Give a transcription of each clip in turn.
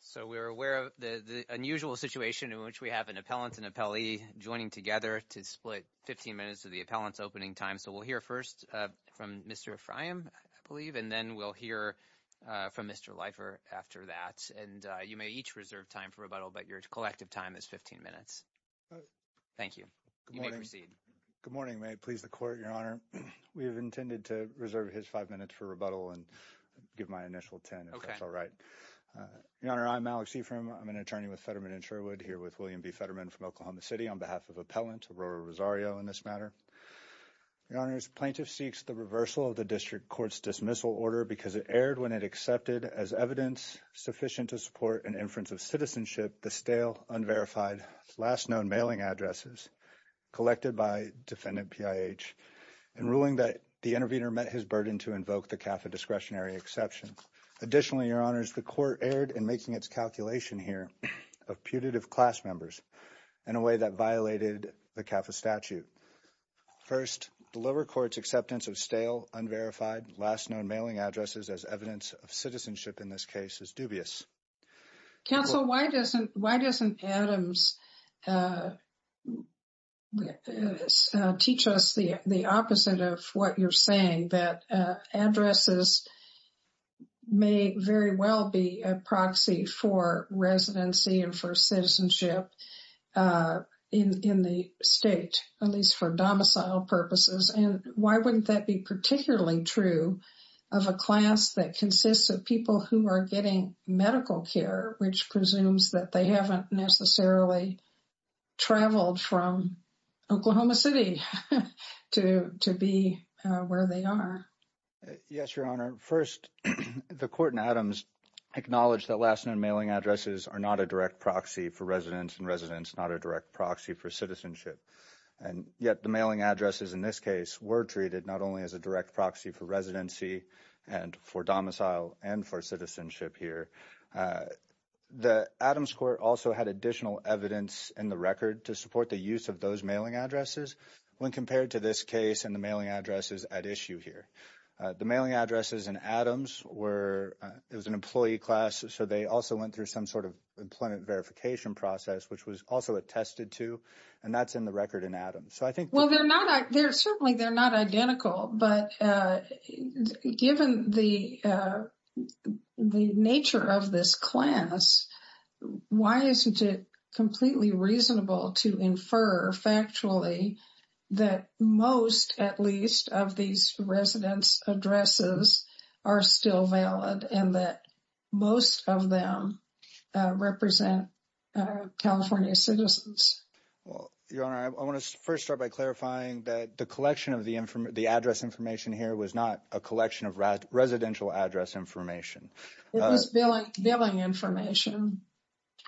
So we're aware of the unusual situation in which we have an appellant and appellee joining together to split 15 minutes of the appellant's opening time. So we'll hear first from Mr. Ephraim, I believe, and then we'll hear from Mr. Leifer after that. And you may each reserve time for rebuttal, but your collective time is 15 minutes. Thank you. You may proceed. Good morning. Good morning. May it please the Court, Your Honor. We have intended to reserve his five minutes for rebuttal and give my initial 10 if that's all right. Your Honor, I'm Alex Ephraim. I'm an attorney with Fetterman & Sherwood here with William B. Fetterman from Oklahoma City on behalf of appellant Aurora Rosario in this matter. Your Honor, this plaintiff seeks the reversal of the district court's dismissal order because it erred when it accepted as evidence sufficient to support an inference of citizenship the stale, unverified, last known mailing addresses collected by defendant PIH in ruling that the intervener met his burden to invoke the CAFA discretionary exception. Additionally, Your Honors, the court erred in making its calculation here of putative class members in a way that violated the CAFA statute. First, the lower court's acceptance of stale, unverified, last known mailing addresses as evidence of citizenship in this case is dubious. Counsel, why doesn't Adams teach us the opposite of what you're saying, that addresses may very well be a proxy for residency and for citizenship in the state, at least for domicile purposes, and why wouldn't that be particularly true of a class that consists of people who are getting medical care, which presumes that they haven't necessarily traveled from Oklahoma City to be where they are? Yes, Your Honor. First, the court in Adams acknowledged that last-known mailing addresses are not a direct proxy for residents and residents not a direct proxy for citizenship, and yet the addresses in this case were treated not only as a direct proxy for residency and for domicile and for citizenship here. The Adams court also had additional evidence in the record to support the use of those mailing addresses when compared to this case and the mailing addresses at issue here. The mailing addresses in Adams were, it was an employee class, so they also went through some sort of employment verification process, which was also attested to, and that's in the record in Adams. Well, certainly they're not identical, but given the nature of this class, why isn't it completely reasonable to infer, factually, that most, at least, of these residents' addresses are still valid and that most of them represent California citizens? Well, Your Honor, I want to first start by clarifying that the collection of the address information here was not a collection of residential address information. It was billing information.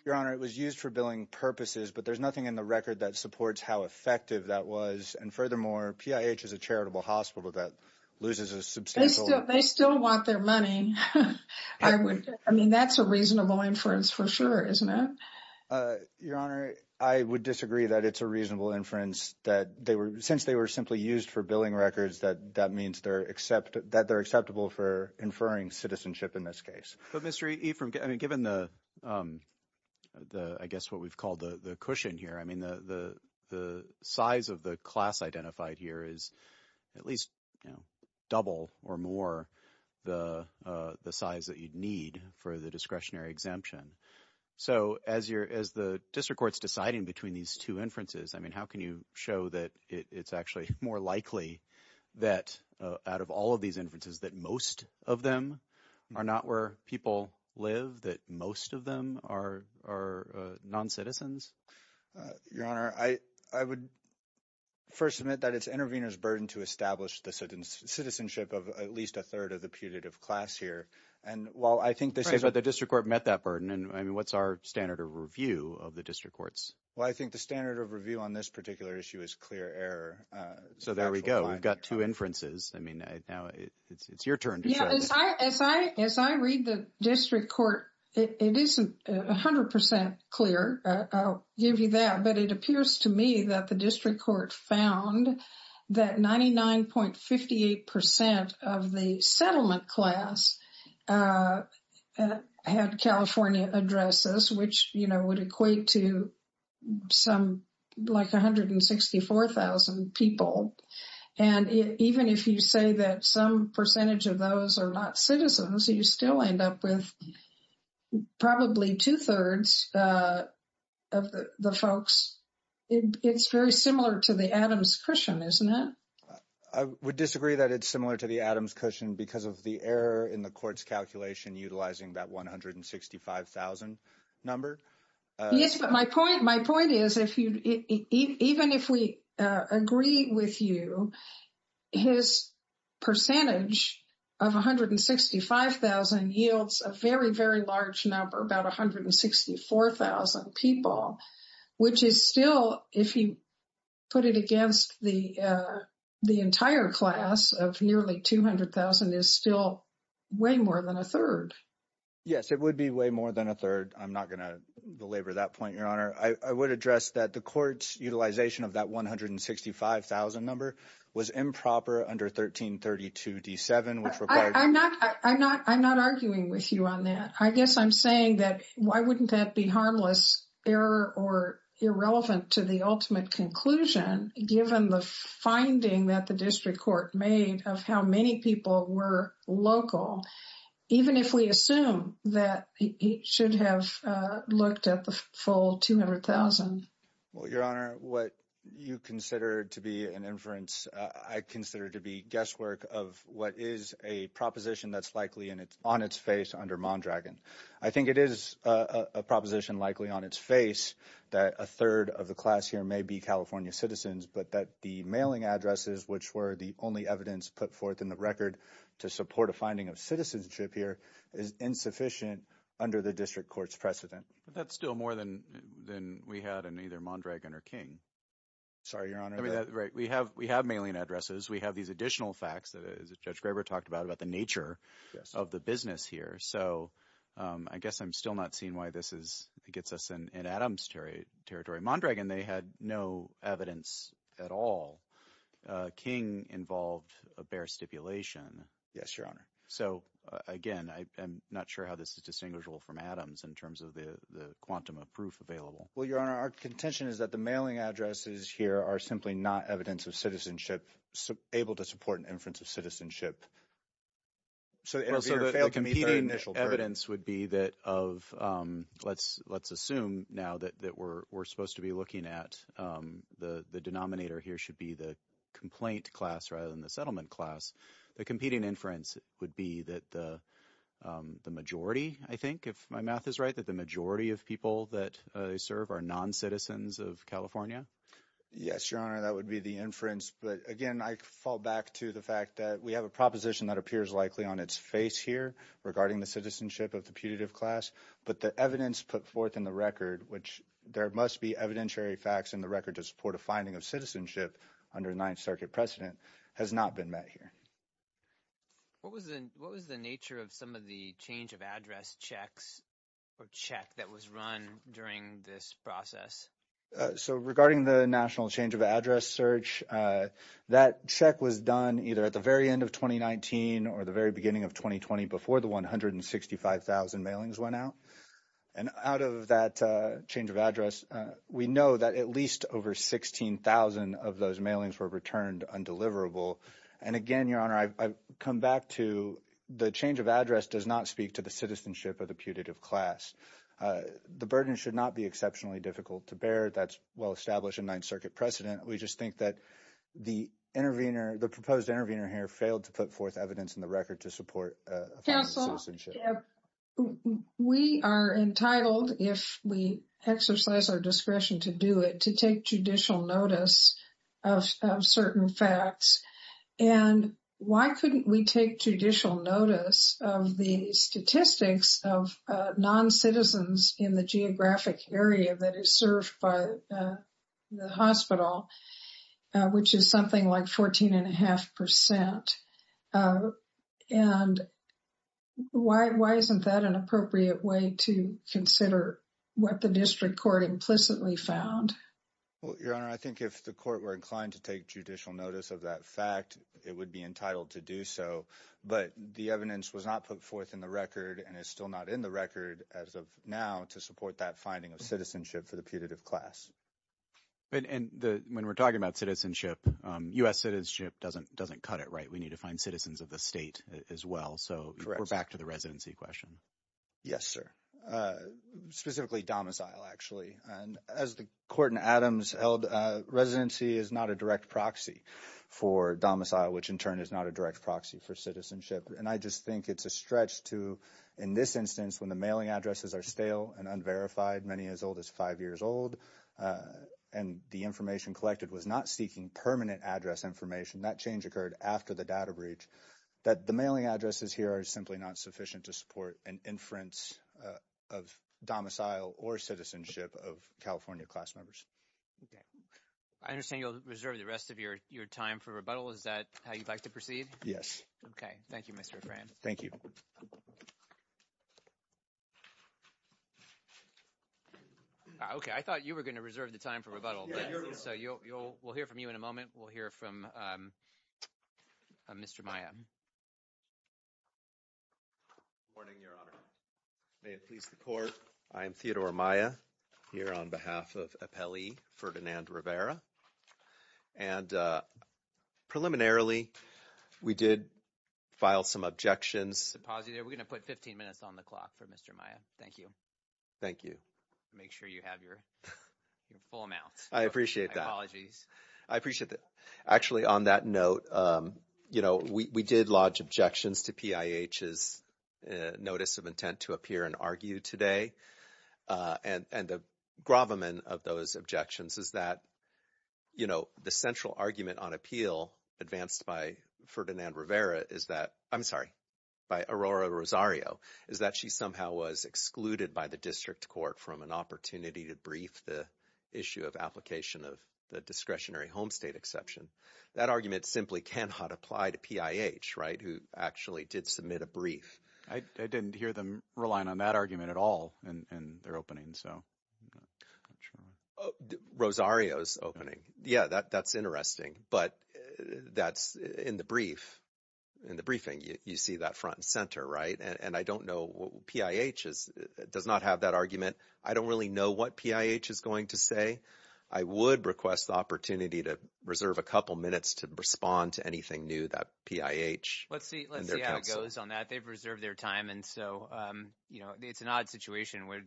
Your Honor, it was used for billing purposes, but there's nothing in the record that supports how effective that was, and furthermore, PIH is a charitable hospital that loses a They still want their money. I mean, that's a reasonable inference for sure, isn't it? Your Honor, I would disagree that it's a reasonable inference that they were, since they were simply used for billing records, that that means they're accept, that they're acceptable for inferring citizenship in this case. But Mr. E, given the, I guess what we've called the cushion here, I mean the size of the class identified here is at least, you know, double or more the the size that you'd need for the discretionary exemption. So as you're, as the district court's deciding between these two inferences, I mean, how can you show that it's actually more likely that out of all of these inferences that most of them are not where people live, that most of them are non-citizens? Your Honor, I would first admit that it's intervener's burden to establish the citizenship of at least a third of the putative class here, and while I think the district court met that burden, and I mean, what's our standard of review of the district courts? Well, I think the standard of review on this particular issue is clear error. So there we go, we've got two inferences. I mean, now it's your turn. Yeah, as I read the district court, it isn't a hundred percent clear. I'll give you that, but it appears to me that the district court found that 99.58 percent of the settlement class had California addresses, which, you know, would equate to some, like, 164,000 people. And even if you say that some percentage of those are not citizens, you still end up with probably two-thirds of the folks. It's very similar to the Adams cushion, isn't it? I would disagree that it's similar to the Adams cushion because of the error in the court's calculation utilizing that 165,000 number. Yes, but my point is, even if we agree with you, his percentage of 165,000 yields a very, very large number, about 164,000 people, which is still, if you put it against the entire class of nearly 200,000, is still way more than a third. Yes, it would be way more than a third. I'm not going to belabor that point, Your Honor. I would address that the court's 165,000 number was improper under 1332 D7. I'm not arguing with you on that. I guess I'm saying that why wouldn't that be harmless error or irrelevant to the ultimate conclusion, given the finding that the district court made of how many people were local, even if we assume that it should have looked at the full 200,000. Well, Your Honor, what you consider to be an inference, I consider to be guesswork of what is a proposition that's likely on its face under Mondragon. I think it is a proposition likely on its face that a third of the class here may be California citizens, but that the mailing addresses, which were the only evidence put forth in the record to support a finding of citizenship here, is insufficient under the district court's precedent. That's still more than we had in either Mondragon or King. Sorry, Your Honor. We have mailing addresses. We have these additional facts that Judge Graber talked about, about the nature of the business here. So I guess I'm still not seeing why this gets us in Adams' territory. Mondragon, they had no evidence at all. King involved a bare stipulation. Yes, Your Honor. So again, I'm not sure how this is distinguishable from Adams in terms of the quantum of proof available. Well, Your Honor, our contention is that the mailing addresses here are simply not evidence of citizenship, able to support an inference of citizenship. So the competing evidence would be that of, let's assume now that we're supposed to be looking at, the denominator here should be the complaint class rather than the settlement class. The competing inference would be that the majority, I think if my math is right, that the majority of people that they serve are non-citizens of California. Yes, Your Honor, that would be the inference. But again, I fall back to the fact that we have a proposition that appears likely on its face here regarding the citizenship of the putative class. But the evidence put forth in the record, which there must be evidentiary facts in the record to support a finding of citizenship under Ninth Circuit precedent, has not been met here. What was the nature of some of the change of address checks or check that was run during this process? So regarding the national change of address search, that check was done either at the very end of 2019 or the very beginning of 2020 before the 165,000 mailings went out. And out of that change of address, we know that at least over 16,000 of those mailings were returned undeliverable. And again, Your Honor, I've come back to the change of address does not speak to the citizenship of the putative class. The burden should not be exceptionally difficult to bear. That's well-established in Ninth Circuit precedent. We just think that the intervener, the proposed intervener here failed to put forth evidence in the record to support a finding of citizenship. Yeah. We are entitled, if we exercise our discretion to do it, to take judicial notice of certain facts. And why couldn't we take judicial notice of the statistics of non-citizens in the geographic area that is served by the hospital, which is something like 14.5 percent? And why isn't that an appropriate way to consider what the district court implicitly found? Well, Your Honor, I think if the court were inclined to take judicial notice of that fact, it would be entitled to do so. But the evidence was not put forth in the record and is still not in the record as of now to support that finding of citizenship for the putative class. And when we're talking about citizenship, U.S. citizenship doesn't cut it, right? We need to find citizens of the state as well. So we're back to the residency question. Yes, sir. Specifically domicile, actually. And as the court in Adams held, residency is not a direct proxy for domicile, which in turn is not a direct proxy for citizenship. And I just think it's a stretch to, in this instance, when the mailing addresses are stale and unverified, many as old as five years old, and the information collected was not seeking permanent address information, that change occurred after the data breach, that the mailing addresses here are simply not sufficient to support an inference of domicile or citizenship of California class members. I understand you'll reserve the rest of your time for rebuttal. Is that how you'd like to proceed? Yes. Okay. Thank you, Mr. Fran. Thank you. Okay. I thought you were going to reserve the time for rebuttal. So we'll hear from you in a moment. We'll hear from Mr. Maya. Good morning, Your Honor. May it please the court, I am Theodore Maya, here on behalf of appellee Ferdinand Rivera. And preliminarily, we did file some objections. We're going to put 15 minutes on the clock for Mr. Maya. Thank you. Thank you. Make sure you have your full amounts. I appreciate that. My apologies. I appreciate that. Actually, on that note, you know, we did lodge objections to PIH's notice of intent to appear and argue today. And the gravamen of those objections is that, you know, the central argument on appeal advanced by Ferdinand Rivera is that – I'm sorry, by Aurora Rosario is that she somehow was excluded by the district court from an opportunity to brief the issue of application of the discretionary home state exception. That argument simply cannot apply to PIH, right, who actually did submit a brief. I didn't hear them relying on that argument at all in their opening, so I'm not sure. Rosario's opening. Yeah, that's interesting. But that's in the brief, in the briefing, you see that front and center, right? And I don't know – PIH does not have that argument. I don't really know what PIH is going to say. I would request the opportunity to reserve a couple minutes to respond to anything new that PIH and their counsel – Let's see how it goes on that. They've reserved their time, and so it's an odd situation where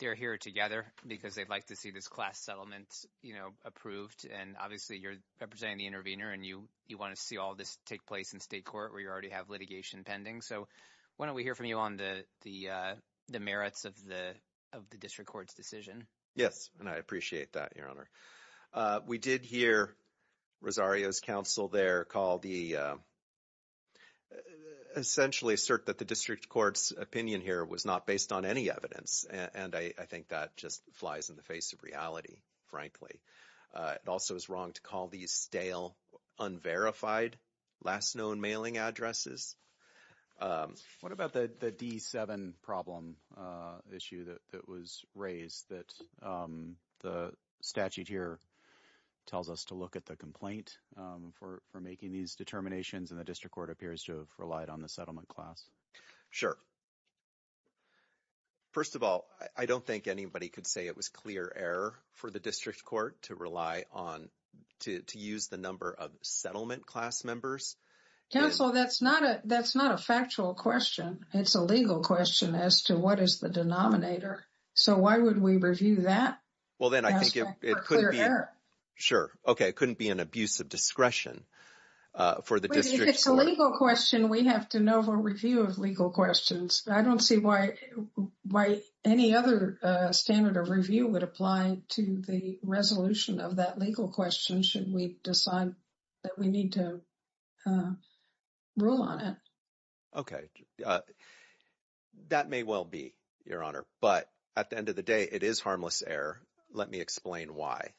they're here together because they'd like to see this class settlement approved. And obviously you're representing the intervener, and you want to see all this take place in state court where you already have litigation pending. So why don't we hear from you on the merits of the district court's decision? Yes, and I appreciate that, Your Honor. We did hear Rosario's counsel there call the – essentially assert that the district court's opinion here was not based on any evidence, and I think that just flies in the face of reality, frankly. It also is wrong to call these stale, unverified, last known mailing addresses. What about the D7 problem issue that was raised that the statute here tells us to look at the complaint for making these determinations, and the district court appears to have relied on the settlement class? Sure. First of all, I don't think anybody could say it was clear error for the district court to rely on – to use the number of settlement class members. Counsel, that's not a factual question. It's a legal question as to what is the denominator. So why would we review that? Well, then I think it could be – For clear error. Sure. Okay. It couldn't be an abuse of discretion for the district court. If it's a legal question, we have to know for review of legal questions. I don't see why any other standard of review would apply to the resolution of that legal question should we decide that we need to rule on it. Okay. That may well be, Your Honor, but at the end of the day, it is harmless error. Let me explain why.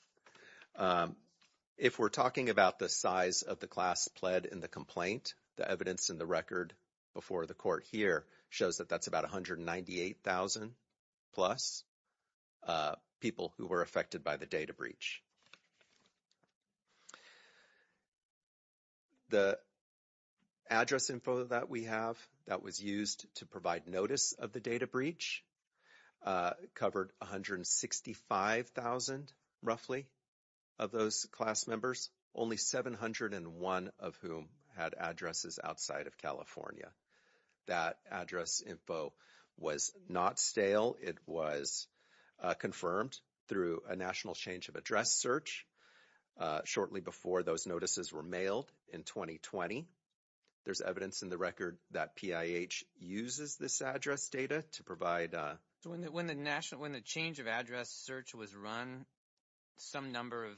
If we're talking about the size of the class pled in the complaint, the evidence in the record before the court here shows that that's about 198,000-plus people who were affected by the data breach. The address info that we have that was used to provide notice of the data breach covered 165,000, roughly, of those class members, only 701 of whom had addresses outside of California. That address info was not stale. It was confirmed through a national change of address search shortly before those notices were mailed in 2020. There's evidence in the record that PIH uses this address data to provide – When the change of address search was run, some number of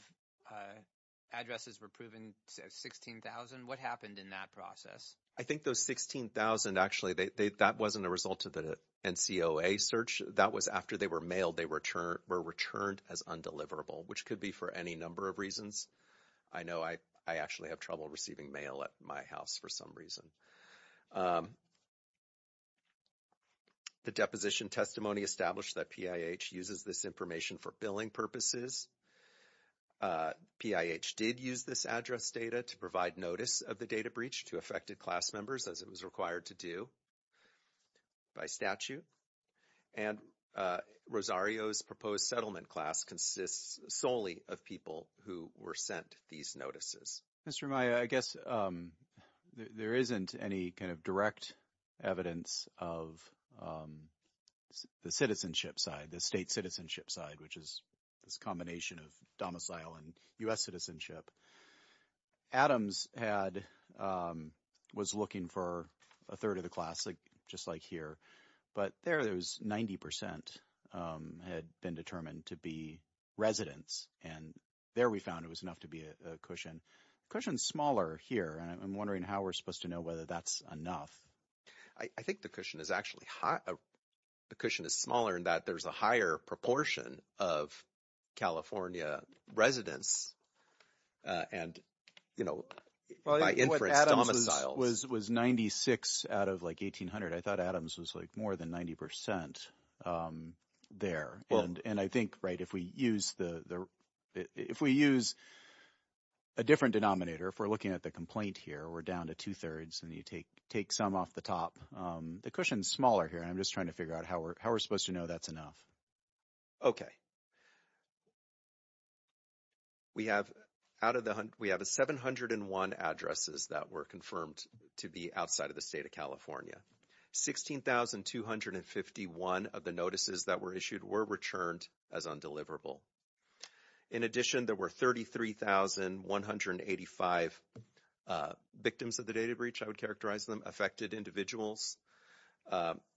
addresses were proven 16,000. What happened in that process? I think those 16,000, actually, that wasn't a result of the NCOA search. That was after they were mailed. They were returned as undeliverable, which could be for any number of reasons. I know I actually have trouble receiving mail at my house for some reason. The deposition testimony established that PIH uses this information for billing purposes. PIH did use this address data to provide notice of the data breach to affected class members, as it was required to do by statute. And Rosario's proposed settlement class consists solely of people who were sent these notices. Mr. Amaya, I guess there isn't any kind of direct evidence of the citizenship side, the state citizenship side, which is this combination of domicile and U.S. citizenship. Adams was looking for a third of the class, just like here. But there it was 90% had been determined to be residents. And there we found it was enough to be a cushion. Cushion's smaller here, and I'm wondering how we're supposed to know whether that's enough. I think the cushion is smaller in that there's a higher proportion of California residents and, you know, by inference, domiciles. It was 96 out of, like, 1,800. I thought Adams was, like, more than 90% there. And I think, right, if we use a different denominator, if we're looking at the complaint here, we're down to two-thirds and you take some off the top. The cushion's smaller here, and I'm just trying to figure out how we're supposed to know that's enough. Okay. We have 701 addresses that were confirmed to be outside of the state of California. 16,251 of the notices that were issued were returned as undeliverable. In addition, there were 33,185 victims of the data breach, I would characterize them, affected individuals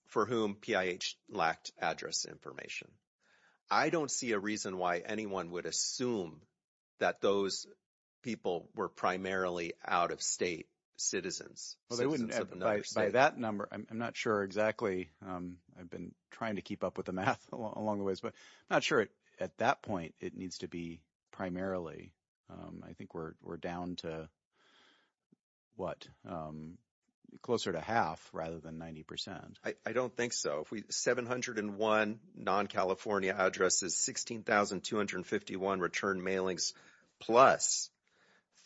for whom PIH lacked address information. I don't see a reason why anyone would assume that those people were primarily out-of-state citizens. By that number, I'm not sure exactly. I've been trying to keep up with the math along the ways, but I'm not sure at that point it needs to be primarily. I think we're down to, what, closer to half rather than 90%. I don't think so. 701 non-California addresses, 16,251 return mailings, plus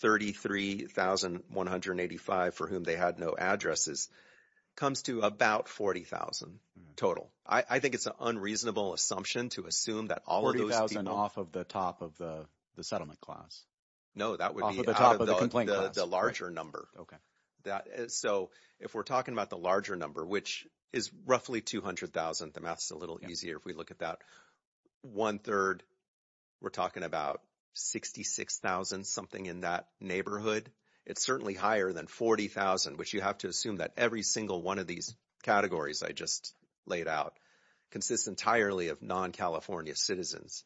33,185 for whom they had no addresses comes to about 40,000 total. I think it's an unreasonable assumption to assume that all of those people… 40,000 off of the top of the settlement class. No, that would be out of the larger number. Okay. So, if we're talking about the larger number, which is roughly 200,000, the math's a little easier if we look at that. One-third, we're talking about 66,000-something in that neighborhood. It's certainly higher than 40,000, which you have to assume that every single one of these categories I just laid out consists entirely of non-California citizens.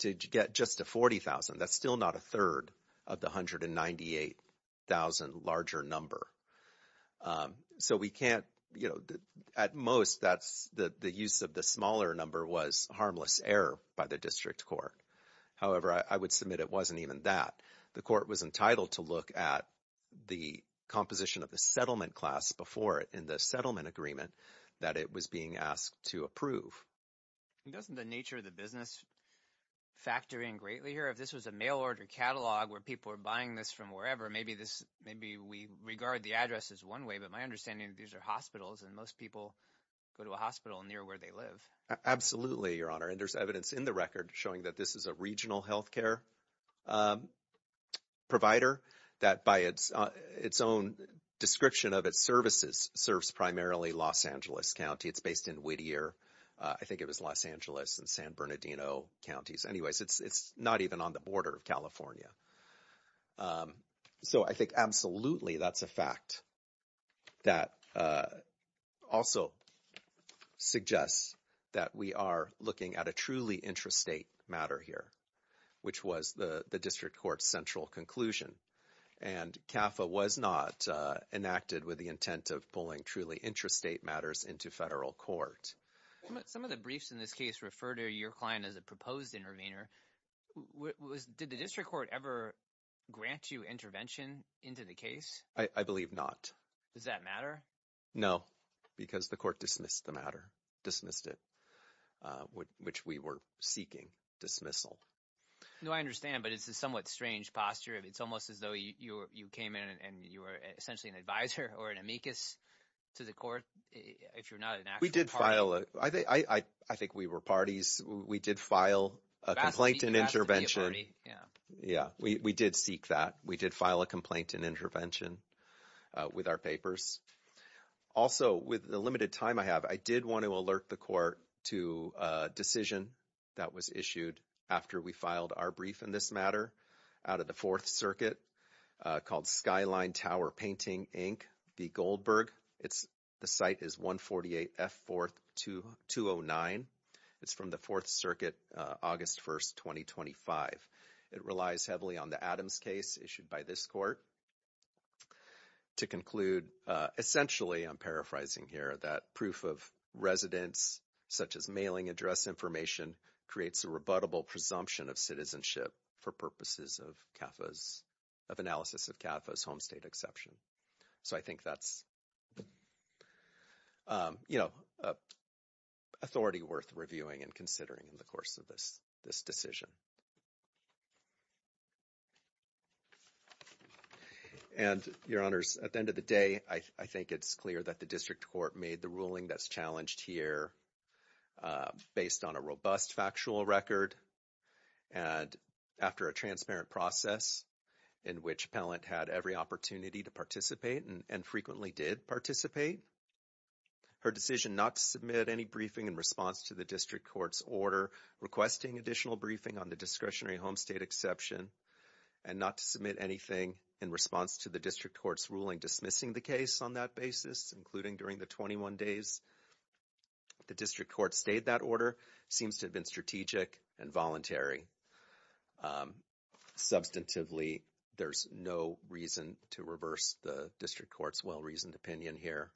To get just to 40,000, that's still not a third of the 198,000 larger number. So, we can't – at most, the use of the smaller number was harmless error by the district court. However, I would submit it wasn't even that. The court was entitled to look at the composition of the settlement class before it in the settlement agreement that it was being asked to approve. Doesn't the nature of the business factor in greatly here? If this was a mail-order catalog where people are buying this from wherever, maybe we regard the addresses one way. But my understanding is these are hospitals, and most people go to a hospital near where they live. Absolutely, Your Honor. And there's evidence in the record showing that this is a regional health care provider that, by its own description of its services, serves primarily Los Angeles County. It's based in Whittier. I think it was Los Angeles and San Bernardino counties. Anyways, it's not even on the border of California. So, I think absolutely that's a fact that also suggests that we are looking at a truly intrastate matter here, which was the district court's central conclusion. And CAFA was not enacted with the intent of pulling truly intrastate matters into federal court. Some of the briefs in this case refer to your client as a proposed intervener. Did the district court ever grant you intervention into the case? I believe not. Does that matter? No, because the court dismissed the matter, dismissed it, which we were seeking dismissal. No, I understand, but it's a somewhat strange posture. It's almost as though you came in and you were essentially an advisor or an amicus to the court, if you're not an actual party. We did file – I think we were parties. We did file a complaint and intervention. Yeah, we did seek that. We did file a complaint and intervention with our papers. Also, with the limited time I have, I did want to alert the court to a decision that was issued after we filed our brief in this matter out of the Fourth Circuit called Skyline Tower Painting, Inc., v. Goldberg. The site is 148F4209. It's from the Fourth Circuit, August 1st, 2025. It relies heavily on the Adams case issued by this court. To conclude, essentially I'm paraphrasing here that proof of residence, such as mailing address information, creates a rebuttable presumption of citizenship for purposes of analysis of CAFA's home state exception. So I think that's authority worth reviewing and considering in the course of this decision. And, Your Honors, at the end of the day, I think it's clear that the district court made the ruling that's challenged here based on a robust factual record and after a transparent process in which appellant had every opportunity to participate and frequently did participate. Her decision not to submit any briefing in response to the district court's order requesting additional briefing on the discretionary home state exception and not to submit anything in response to the district court's ruling dismissing the case on that basis, including during the 21 days the district court stayed that order, seems to have been strategic and voluntary. Substantively, there's no reason to reverse the district court's well-reasoned opinion here.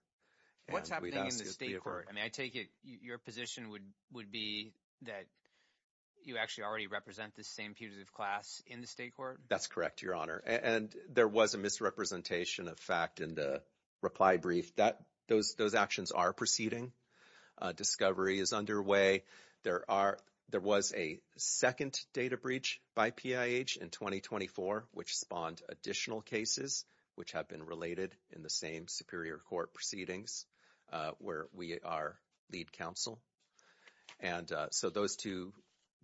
What's happening in the state court? I mean, I take it your position would be that you actually already represent the same putative class in the state court? That's correct, Your Honor. And there was a misrepresentation of fact in the reply brief. Those actions are proceeding. Discovery is underway. There was a second data breach by PIH in 2024 which spawned additional cases which have been related in the same superior court proceedings where we are lead counsel. And so those two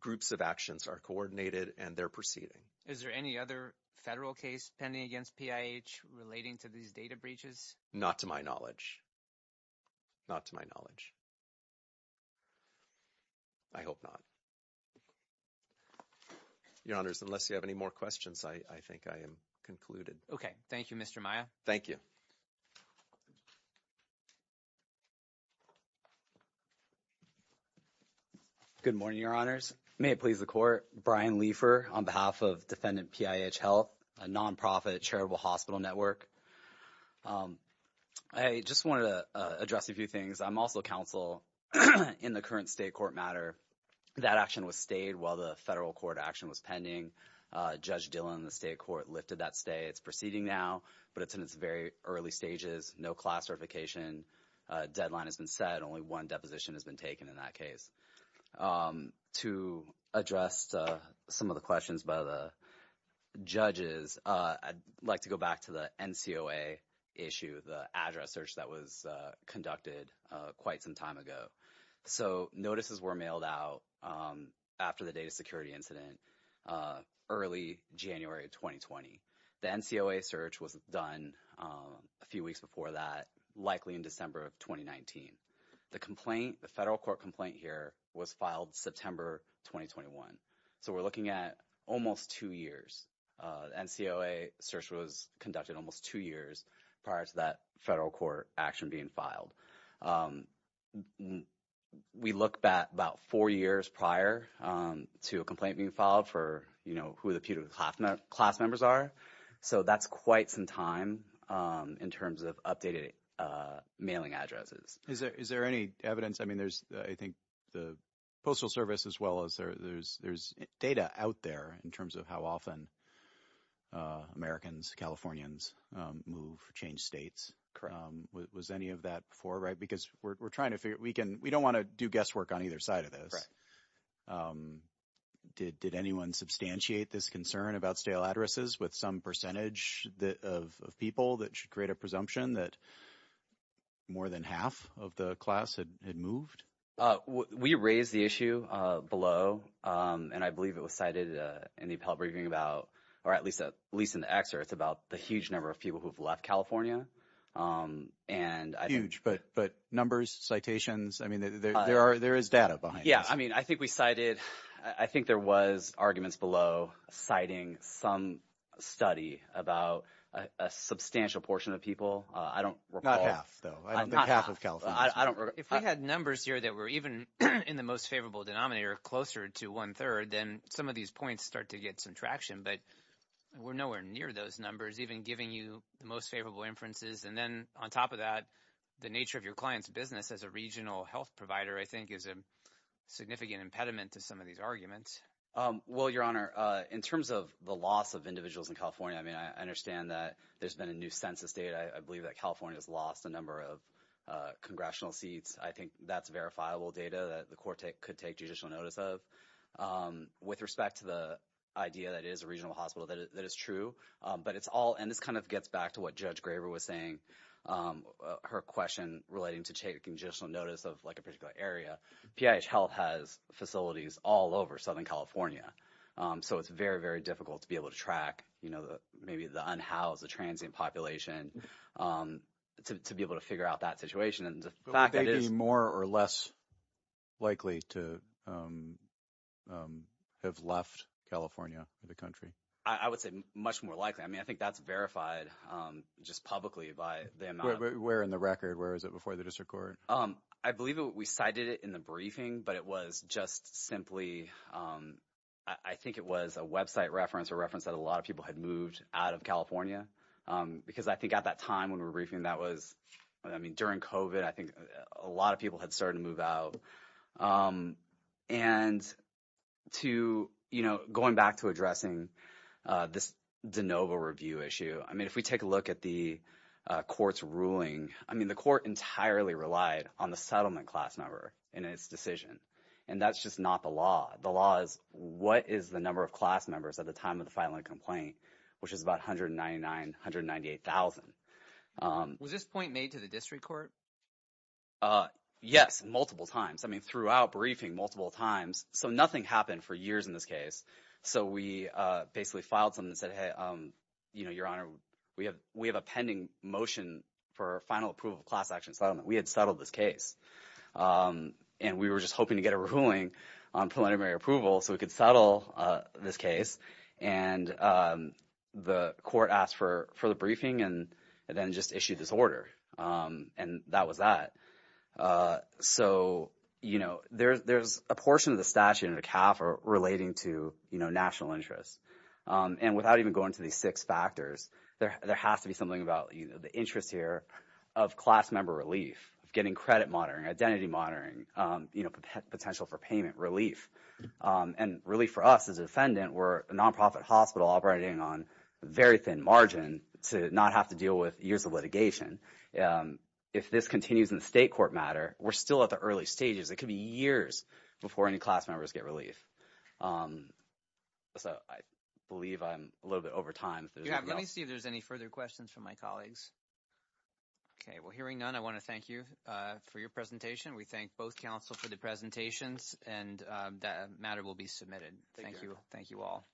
groups of actions are coordinated and they're proceeding. Is there any other federal case pending against PIH relating to these data breaches? Not to my knowledge. Not to my knowledge. I hope not. Your Honors, unless you have any more questions, I think I am concluded. Thank you, Mr. Maia. Thank you. Good morning, Your Honors. May it please the court. Brian Leifer on behalf of Defendant PIH Health, a nonprofit charitable hospital network. I just wanted to address a few things. I'm also counsel in the current state court matter. That action was stayed while the federal court action was pending. Judge Dillon in the state court lifted that stay. It's proceeding now, but it's in its very early stages. No class certification deadline has been set. Only one deposition has been taken in that case. To address some of the questions by the judges, I'd like to go back to the NCOA issue, the address search that was conducted quite some time ago. So notices were mailed out after the data security incident early January of 2020. The NCOA search was done a few weeks before that, likely in December of 2019. The complaint, the federal court complaint here, was filed September 2021. So we're looking at almost two years. The NCOA search was conducted almost two years prior to that federal court action being filed. We looked at about four years prior to a complaint being filed for, you know, who the putative class members are. So that's quite some time in terms of updated mailing addresses. Is there any evidence? I mean, there's I think the Postal Service as well. There's data out there in terms of how often Americans, Californians move, change states. Was any of that before, right? Because we're trying to figure it. We don't want to do guesswork on either side of this. Did anyone substantiate this concern about stale addresses with some percentage of people that should create a presumption that more than half of the class had moved? We raised the issue below, and I believe it was cited in the appellate briefing about, or at least in the excerpt, it's about the huge number of people who have left California. Huge, but numbers, citations, I mean, there is data behind this. Yeah, I mean, I think we cited, I think there was arguments below citing some study about a substantial portion of people. I don't recall. Not half, though. I don't think half of Californians. If we had numbers here that were even in the most favorable denominator closer to one-third, then some of these points start to get some traction. But we're nowhere near those numbers, even giving you the most favorable inferences. And then on top of that, the nature of your client's business as a regional health provider, I think, is a significant impediment to some of these arguments. Well, Your Honor, in terms of the loss of individuals in California, I mean, I understand that there's been a new census data. I believe that California has lost a number of congressional seats. I think that's verifiable data that the court could take judicial notice of. With respect to the idea that it is a regional hospital, that is true. But it's all, and this kind of gets back to what Judge Graber was saying, her question relating to taking judicial notice of, like, a particular area. PIH Health has facilities all over Southern California. So it's very, very difficult to be able to track, you know, maybe the unhoused, the transient population, to be able to figure out that situation. But would they be more or less likely to have left California, the country? I would say much more likely. I mean, I think that's verified just publicly by the amount of— Where in the record? Where is it before the district court? I believe we cited it in the briefing, but it was just simply, I think it was a website reference, a reference that a lot of people had moved out of California. Because I think at that time when we were briefing, that was, I mean, during COVID, I think a lot of people had started to move out. And to, you know, going back to addressing this DeNova review issue, I mean, if we take a look at the court's ruling, I mean, the court entirely relied on the settlement class number in its decision. And that's just not the law. The law is what is the number of class members at the time of the filing complaint, which is about 199, 198,000. Was this point made to the district court? Yes, multiple times. I mean, throughout briefing, multiple times. So nothing happened for years in this case. So we basically filed something and said, hey, you know, Your Honor, we have a pending motion for final approval of class action settlement. We had settled this case and we were just hoping to get a ruling on preliminary approval so we could settle this case. And the court asked for the briefing and then just issued this order. And that was that. So, you know, there's a portion of the statute in the CAF relating to, you know, national interests. And without even going to these six factors, there has to be something about the interest here of class member relief, of getting credit monitoring, identity monitoring, you know, potential for payment relief. And really for us as a defendant, we're a nonprofit hospital operating on very thin margin to not have to deal with years of litigation. If this continues in the state court matter, we're still at the early stages. It could be years before any class members get relief. So I believe I'm a little bit over time. Let me see if there's any further questions from my colleagues. OK, well, hearing none, I want to thank you for your presentation. We thank both counsel for the presentations and that matter will be submitted. Thank you. Thank you all.